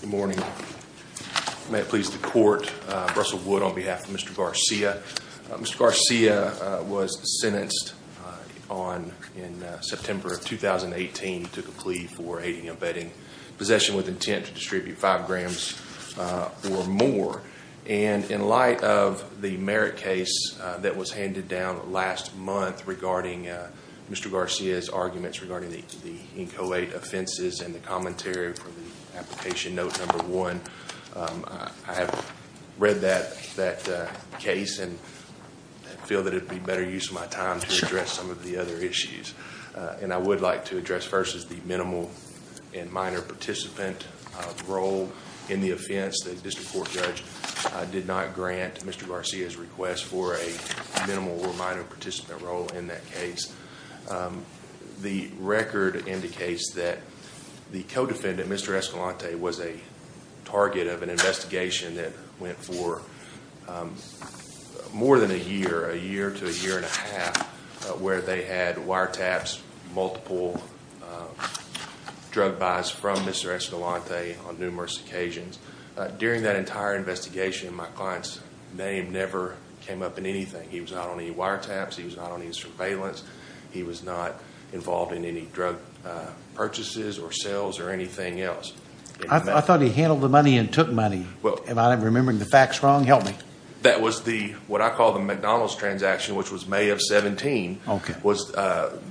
Good morning. May it please the court. Russell Wood on behalf of Mr. Garcia. Mr. Garcia was sentenced in September of 2018 to a plea for aiding and abetting possession with intent to distribute five grams or more. And in light of the merit case that was handed down last month regarding Mr. Garcia's arguments regarding the inchoate offenses and the commentary for the application note number one, I have read that case and feel that it would be better to use my time to address some of the other issues. And I would like to address first is the minimal and minor participant role in the offense. The district court judge did not grant Mr. Garcia's request for a minimal or minor participant role in that case. The record indicates that the co-defendant, Mr. Escalante, was a target of an investigation that went for more than a year, a year to a year and a half, where they had wiretaps, multiple drug buys from Mr. Escalante on numerous occasions. During that entire investigation, my client's name never came up in anything. He was not on any wiretaps. He was not on any surveillance. He was not involved in any drug purchases or sales or anything else. I thought he handled the money and took money. Am I remembering the facts wrong? Help me. That was what I call the McDonald's transaction, which was May of 17. Okay.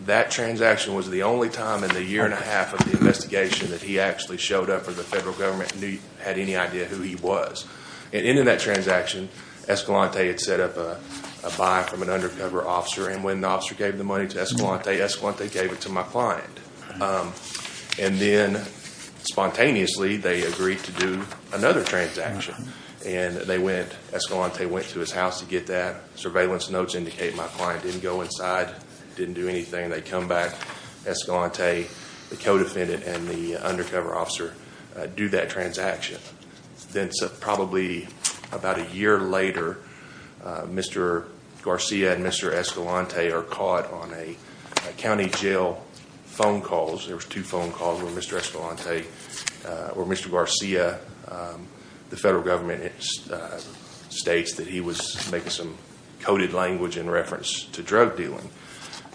That transaction was the only time in the year and a half of the investigation that he actually showed up or the federal government had any idea who he was. At the end of that transaction, Escalante had set up a buy from an undercover officer. And when the officer gave the money to Escalante, Escalante gave it to my client. And then, spontaneously, they agreed to do another transaction. And they went. Escalante went to his house to get that. Surveillance notes indicate my client didn't go inside, didn't do anything. They come back, Escalante, the co-defendant, and the undercover officer do that transaction. Then, probably about a year later, Mr. Garcia and Mr. Escalante are caught on a county jail phone calls. There was two phone calls where Mr. Escalante or Mr. Garcia, the federal government, states that he was making some coded language in reference to drug dealing.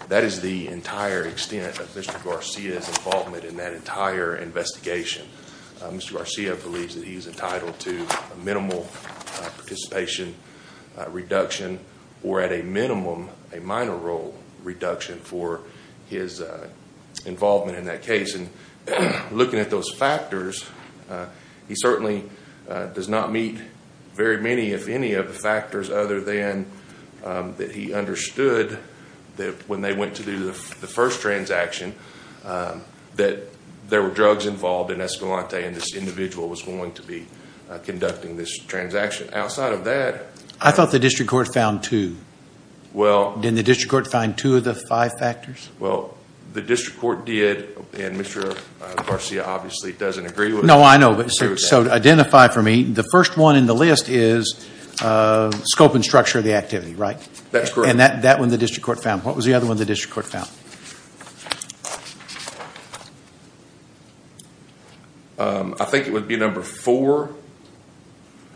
That is the entire extent of Mr. Garcia's involvement in that entire investigation. Mr. Garcia believes that he is entitled to a minimal participation reduction or, at a minimum, a minor role reduction for his involvement in that case. And looking at those factors, he certainly does not meet very many, if any, of the factors other than that he understood that when they went to do the first transaction, that there were drugs involved in Escalante and this individual was going to be conducting this transaction. Outside of that- I thought the district court found two. Well- Didn't the district court find two of the five factors? Well, the district court did, and Mr. Garcia obviously doesn't agree with that. No, I know. So, to identify for me, the first one in the list is scope and structure of the activity, right? That's correct. And that one the district court found. What was the other one the district court found? I think it would be number four.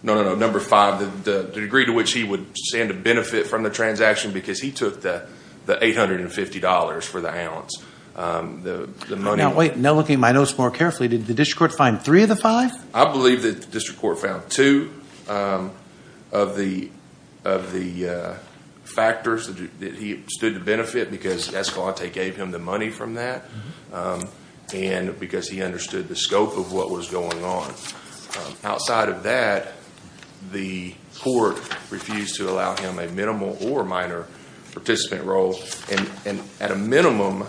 No, no, no. Number five, the degree to which he would stand to benefit from the transaction because he took the $850 for the ounce. The money- Now, wait. Now, looking at my notes more carefully, did the district court find three of the five? I believe that the district court found two of the factors that he stood to benefit because Escalante gave him the money from that and because he understood the scope of what was going on. Outside of that, the court refused to allow him a minimal or minor participant role. At a minimum,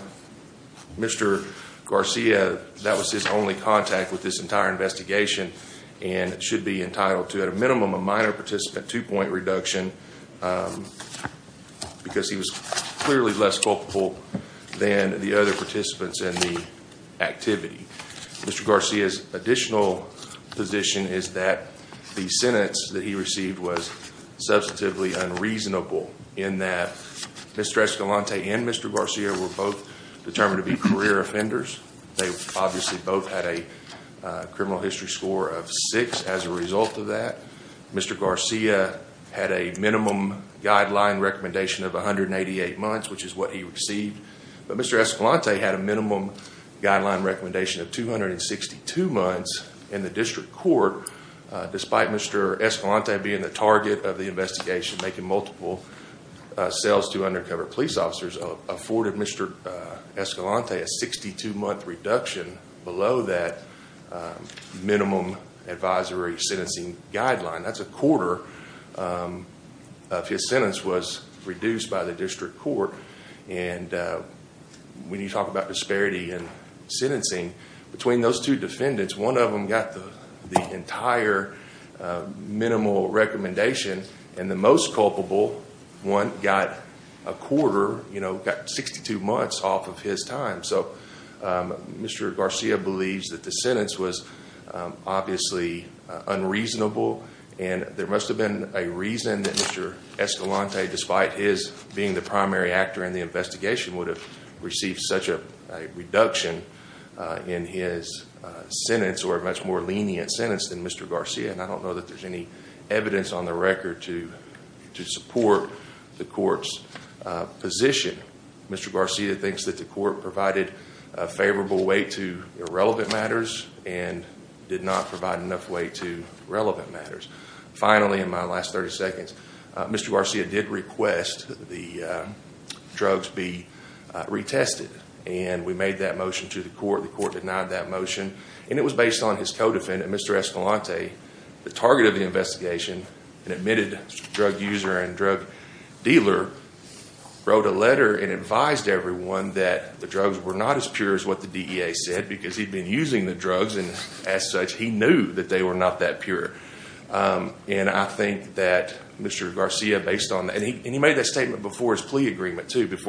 Mr. Garcia, that was his only contact with this entire investigation and should be entitled to, at a minimum, a minor participant two-point reduction because he was clearly less culpable than the other participants in the activity. Mr. Garcia's additional position is that the sentence that he received was substantively unreasonable in that Mr. Escalante and Mr. Garcia were both determined to be career offenders. They obviously both had a criminal history score of six as a result of that. Mr. Garcia had a minimum guideline recommendation of 188 months, which is what he received, but Mr. Escalante had a minimum guideline recommendation of 262 months in the district court despite Mr. Escalante being the target of the investigation, making multiple sales to undercover police officers, afforded Mr. Escalante a 62-month reduction below that minimum advisory sentencing guideline. That's a quarter of his sentence was reduced by the district court. When you talk about disparity in sentencing, between those two defendants, one of them got the entire minimal recommendation, and the most culpable one got a quarter, got 62 months off of his time. So Mr. Garcia believes that the sentence was obviously unreasonable, and there must have been a reason that Mr. Escalante, despite his being the primary actor in the investigation, would have received such a reduction in his sentence or a much more lenient sentence than Mr. Garcia, and I don't know that there's any evidence on the record to support the court's position. Mr. Garcia thinks that the court provided a favorable weight to irrelevant matters and did not provide enough weight to relevant matters. Finally, in my last 30 seconds, Mr. Garcia did request that the drugs be retested, and we made that motion to the court. The court denied that motion, and it was based on his co-defendant, Mr. Escalante, the target of the investigation, an admitted drug user and drug dealer, wrote a letter and advised everyone that the drugs were not as pure as what the DEA said because he'd been using the drugs, and as such, he knew that they were not that pure. And I think that Mr. Garcia, based on that, and he made that statement before his plea agreement too. That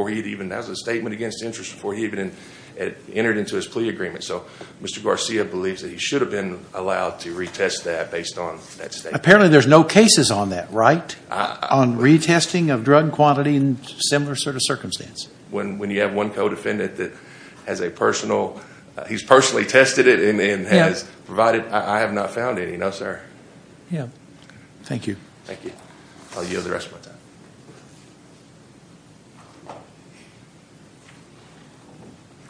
was a statement against interest before he even entered into his plea agreement. So Mr. Garcia believes that he should have been allowed to retest that based on that statement. Apparently there's no cases on that, right, on retesting of drug quantity in similar sort of circumstance? When you have one co-defendant that has a personal, he's personally tested it and has provided, I have not found any, no, sir. Yeah. Thank you. Thank you. I'll yield the rest of my time.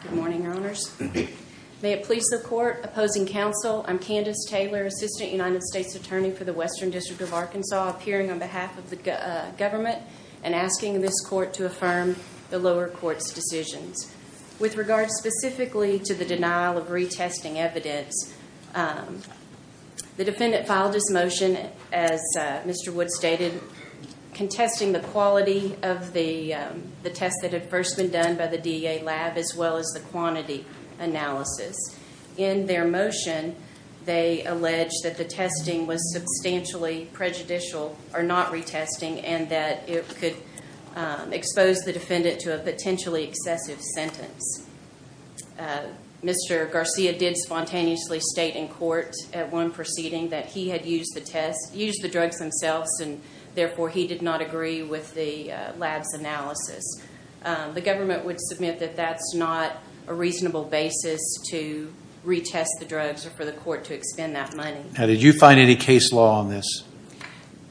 Good morning, Your Honors. May it please the Court, opposing counsel, I'm Candace Taylor, Assistant United States Attorney for the Western District of Arkansas, appearing on behalf of the government and asking this Court to affirm the lower court's decisions. With regards specifically to the denial of retesting evidence, the defendant filed his motion, as Mr. Wood stated, contesting the quality of the test that had first been done by the DEA lab as well as the quantity analysis. In their motion, they allege that the testing was substantially prejudicial or not retesting and that it could expose the defendant to a potentially excessive sentence. Mr. Garcia did spontaneously state in court at one proceeding that he had used the test, used the drugs themselves, and therefore he did not agree with the lab's analysis. The government would submit that that's not a reasonable basis to retest the drugs or for the court to expend that money. Now, did you find any case law on this?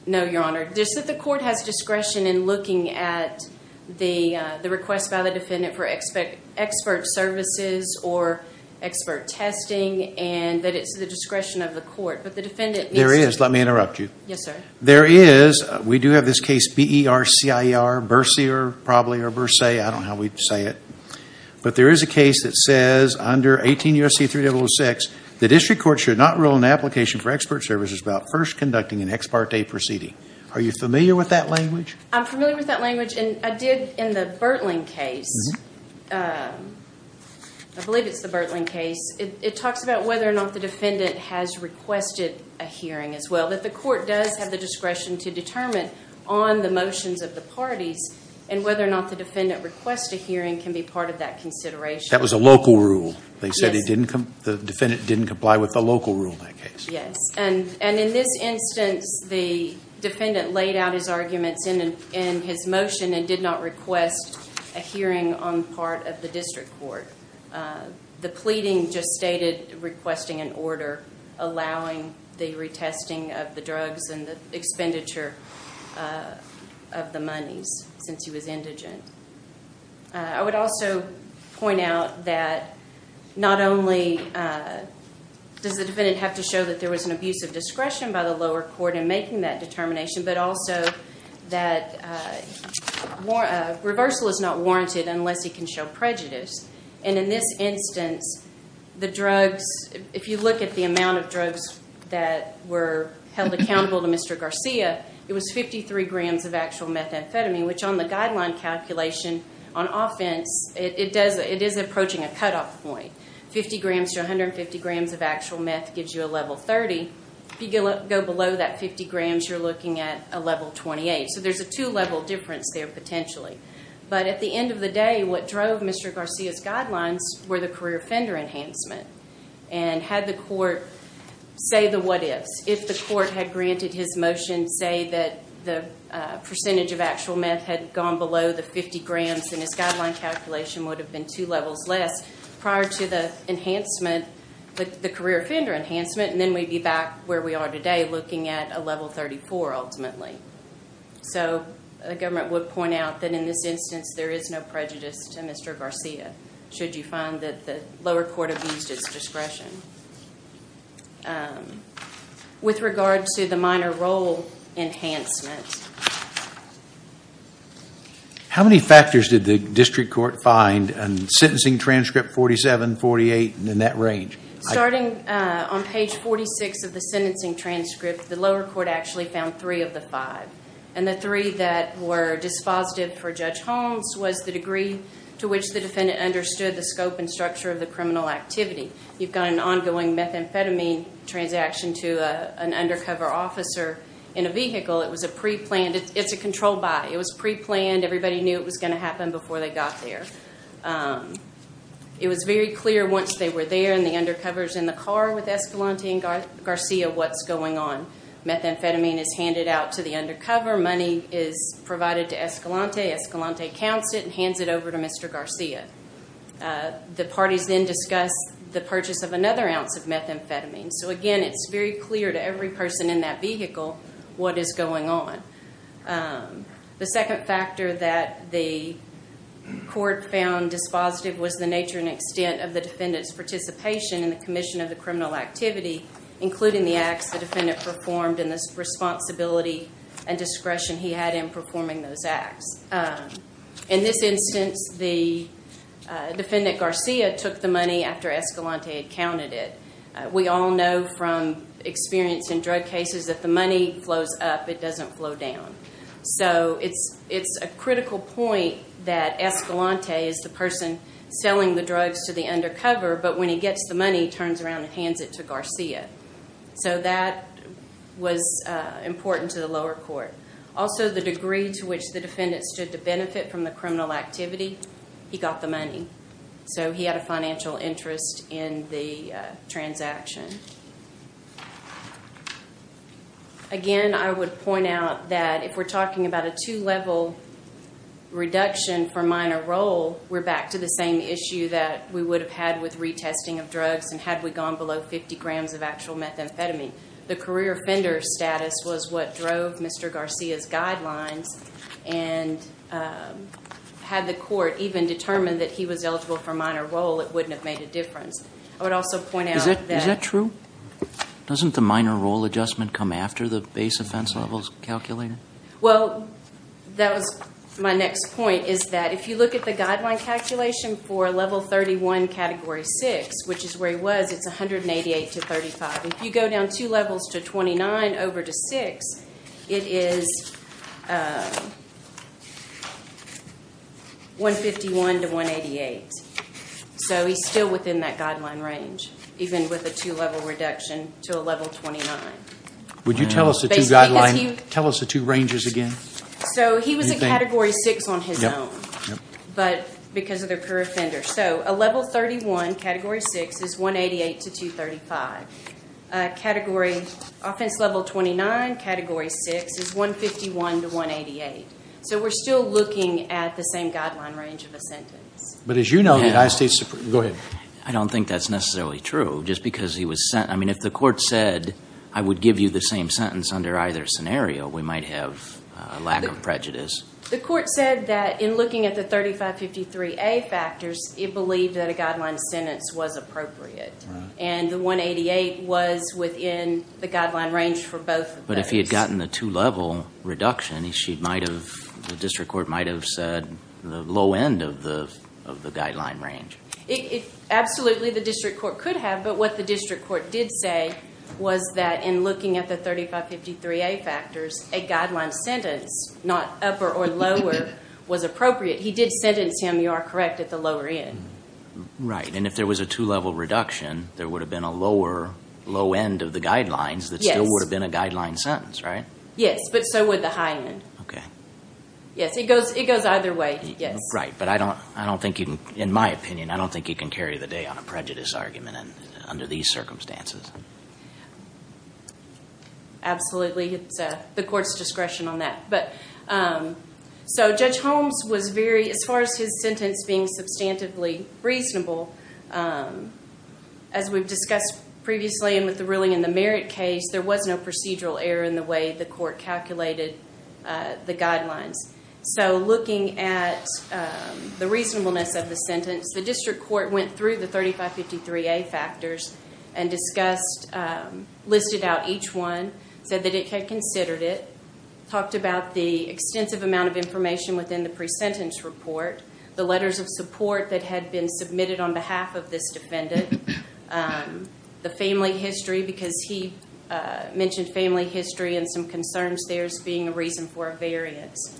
No, Your Honor. Just that the court has discretion in looking at the request by the defendant for expert services or expert testing and that it's the discretion of the court, but the defendant needs to… There is. Let me interrupt you. Yes, sir. There is. We do have this case, B-E-R-C-I-E-R, Bercier, probably, or Bersay. I don't know how we say it. But there is a case that says under 18 U.S.C. 3006, the district court should not rule an application for expert services without first conducting an ex parte proceeding. Are you familiar with that language? I'm familiar with that language, and I did in the Bertling case. I believe it's the Bertling case. It talks about whether or not the defendant has requested a hearing as well, that the court does have the discretion to determine on the motions of the parties and whether or not the defendant requests a hearing can be part of that consideration. That was a local rule. Yes. They said the defendant didn't comply with the local rule in that case. Yes, and in this instance, the defendant laid out his arguments in his motion and did not request a hearing on the part of the district court. The pleading just stated requesting an order allowing the retesting of the drugs and the expenditure of the monies since he was indigent. I would also point out that not only does the defendant have to show that there was an abuse of discretion by the lower court in making that determination, but also that reversal is not warranted unless he can show prejudice. In this instance, if you look at the amount of drugs that were held accountable to Mr. Garcia, it was 53 grams of actual methamphetamine, which on the guideline calculation on offense, it is approaching a cutoff point. Fifty grams to 150 grams of actual meth gives you a level 30. If you go below that 50 grams, you're looking at a level 28. So there's a two-level difference there potentially. But at the end of the day, what drove Mr. Garcia's guidelines were the career offender enhancement and had the court say the what ifs, if the court had granted his motion, say that the percentage of actual meth had gone below the 50 grams and his guideline calculation would have been two levels less prior to the enhancement, the career offender enhancement, and then we'd be back where we are today looking at a level 34 ultimately. So the government would point out that in this instance there is no prejudice to Mr. Garcia should you find that the lower court abused its discretion. With regard to the minor role enhancement. How many factors did the district court find in sentencing transcript 47, 48, and in that range? Starting on page 46 of the sentencing transcript, the lower court actually found three of the five. And the three that were dispositive for Judge Holmes was the degree to which the defendant understood the scope and structure of the criminal activity. You've got an ongoing methamphetamine transaction to an undercover officer in a vehicle. It was a preplanned. It's a control buy. It was preplanned. Everybody knew it was going to happen before they got there. It was very clear once they were there in the undercovers in the car with Escalante and Garcia what's going on. Methamphetamine is handed out to the undercover. Money is provided to Escalante. Escalante counts it and hands it over to Mr. Garcia. The parties then discuss the purchase of another ounce of methamphetamine. So, again, it's very clear to every person in that vehicle what is going on. The second factor that the court found dispositive was the nature and extent of the defendant's participation in the commission of the criminal activity, including the acts the defendant performed and the responsibility and discretion he had in performing those acts. In this instance, the defendant Garcia took the money after Escalante had counted it. We all know from experience in drug cases that the money flows up. It doesn't flow down. So it's a critical point that Escalante is the person selling the drugs to the undercover, but when he gets the money, he turns around and hands it to Garcia. So that was important to the lower court. Also, the degree to which the defendant stood to benefit from the criminal activity, he got the money. So he had a financial interest in the transaction. Again, I would point out that if we're talking about a two-level reduction for minor role, we're back to the same issue that we would have had with retesting of drugs and had we gone below 50 grams of actual methamphetamine. The career offender status was what drove Mr. Garcia's guidelines, and had the court even determined that he was eligible for minor role, it wouldn't have made a difference. I would also point out that— Is that true? Doesn't the minor role adjustment come after the base offense levels calculator? Well, that was my next point, is that if you look at the guideline calculation for Level 31, Category 6, which is where he was, it's 188 to 35. If you go down two levels to 29 over to 6, it is 151 to 188. So he's still within that guideline range, even with a two-level reduction to a Level 29. Would you tell us the two guidelines—tell us the two ranges again? So he was in Category 6 on his own because of the career offender. So a Level 31, Category 6, is 188 to 235. Category—Offense Level 29, Category 6, is 151 to 188. So we're still looking at the same guideline range of a sentence. But as you know, the United States—go ahead. I don't think that's necessarily true. Just because he was sent—I mean, if the court said, I would give you the same sentence under either scenario, we might have a lack of prejudice. The court said that in looking at the 3553A factors, it believed that a guideline sentence was appropriate. And the 188 was within the guideline range for both of those. But if he had gotten the two-level reduction, the district court might have said the low end of the guideline range. Absolutely, the district court could have. But what the district court did say was that in looking at the 3553A factors, a guideline sentence, not upper or lower, was appropriate. He did sentence him, you are correct, at the lower end. Right, and if there was a two-level reduction, there would have been a lower low end of the guidelines that still would have been a guideline sentence, right? Yes, but so would the high end. Okay. Yes, it goes either way, yes. Right, but I don't think you can—in my opinion, I don't think you can carry the day on a prejudice argument under these circumstances. Absolutely, it's the court's discretion on that. But so Judge Holmes was very—as far as his sentence being substantively reasonable, as we've discussed previously and with the ruling in the Merritt case, there was no procedural error in the way the court calculated the guidelines. So looking at the reasonableness of the sentence, the district court went through the 3553A factors and discussed—listed out each one, said that it had considered it, talked about the extensive amount of information within the pre-sentence report, the letters of support that had been submitted on behalf of this defendant, the family history because he mentioned family history and some concerns there as being a reason for a variance.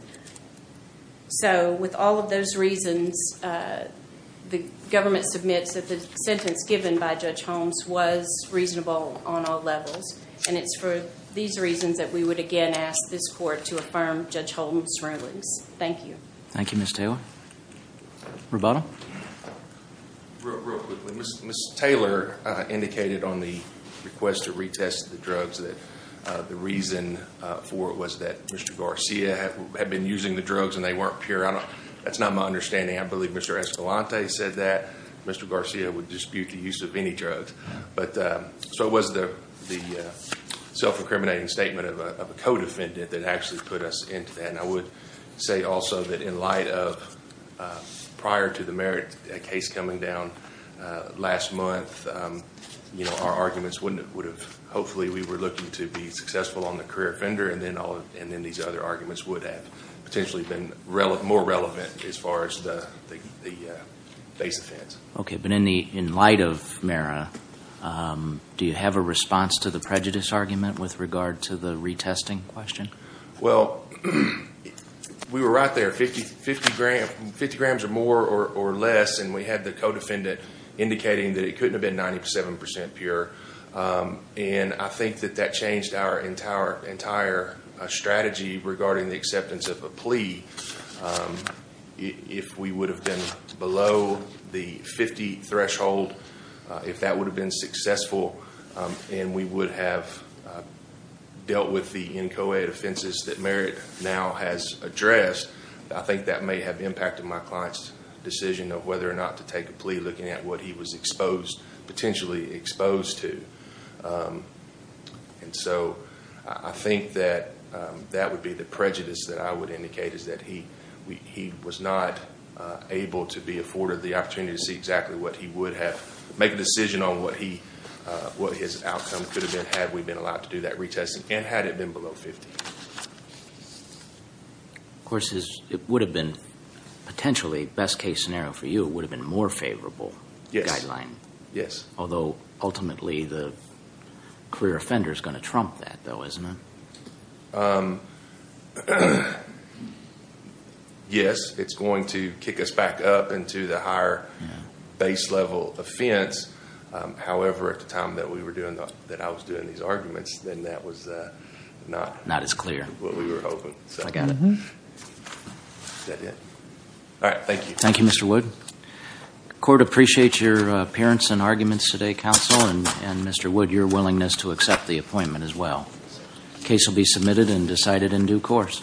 So with all of those reasons, the government submits that the sentence given by Judge Holmes was reasonable on all levels, and it's for these reasons that we would again ask this court to affirm Judge Holmes' rulings. Thank you. Thank you, Ms. Taylor. Roboto? Real quickly, Ms. Taylor indicated on the request to retest the drugs that the reason for it was that Mr. Garcia had been using the drugs and they weren't pure. That's not my understanding. I believe Mr. Escalante said that Mr. Garcia would dispute the use of any drugs. So it was the self-incriminating statement of a co-defendant that actually put us into that, and I would say also that in light of prior to the Merritt case coming down last month, our arguments would have hopefully we were looking to be successful on the career offender and then these other arguments would have potentially been more relevant as far as the base offense. Okay, but in light of Merritt, do you have a response to the prejudice argument with regard to the retesting question? Well, we were right there, 50 grams or more or less, and we had the co-defendant indicating that it couldn't have been 97% pure, and I think that that changed our entire strategy regarding the acceptance of a plea. If we would have been below the 50 threshold, if that would have been successful and we would have dealt with the NCOA offenses that Merritt now has addressed, I think that may have impacted my client's decision of whether or not to take a plea, looking at what he was potentially exposed to. And so I think that that would be the prejudice that I would indicate, is that he was not able to be afforded the opportunity to see exactly what he would have, make a decision on what his outcome could have been had we been allowed to do that retesting, and had it been below 50. Of course, it would have been potentially, best case scenario for you, it would have been a more favorable guideline. Yes. Although ultimately the career offender is going to trump that, though, isn't it? Yes, it's going to kick us back up into the higher base level offense. However, at the time that I was doing these arguments, then that was not as favorable. That's clear. That's what we were hoping. I got it. All right, thank you. Thank you, Mr. Wood. The court appreciates your appearance and arguments today, counsel, and, Mr. Wood, your willingness to accept the appointment as well. The case will be submitted and decided in due course.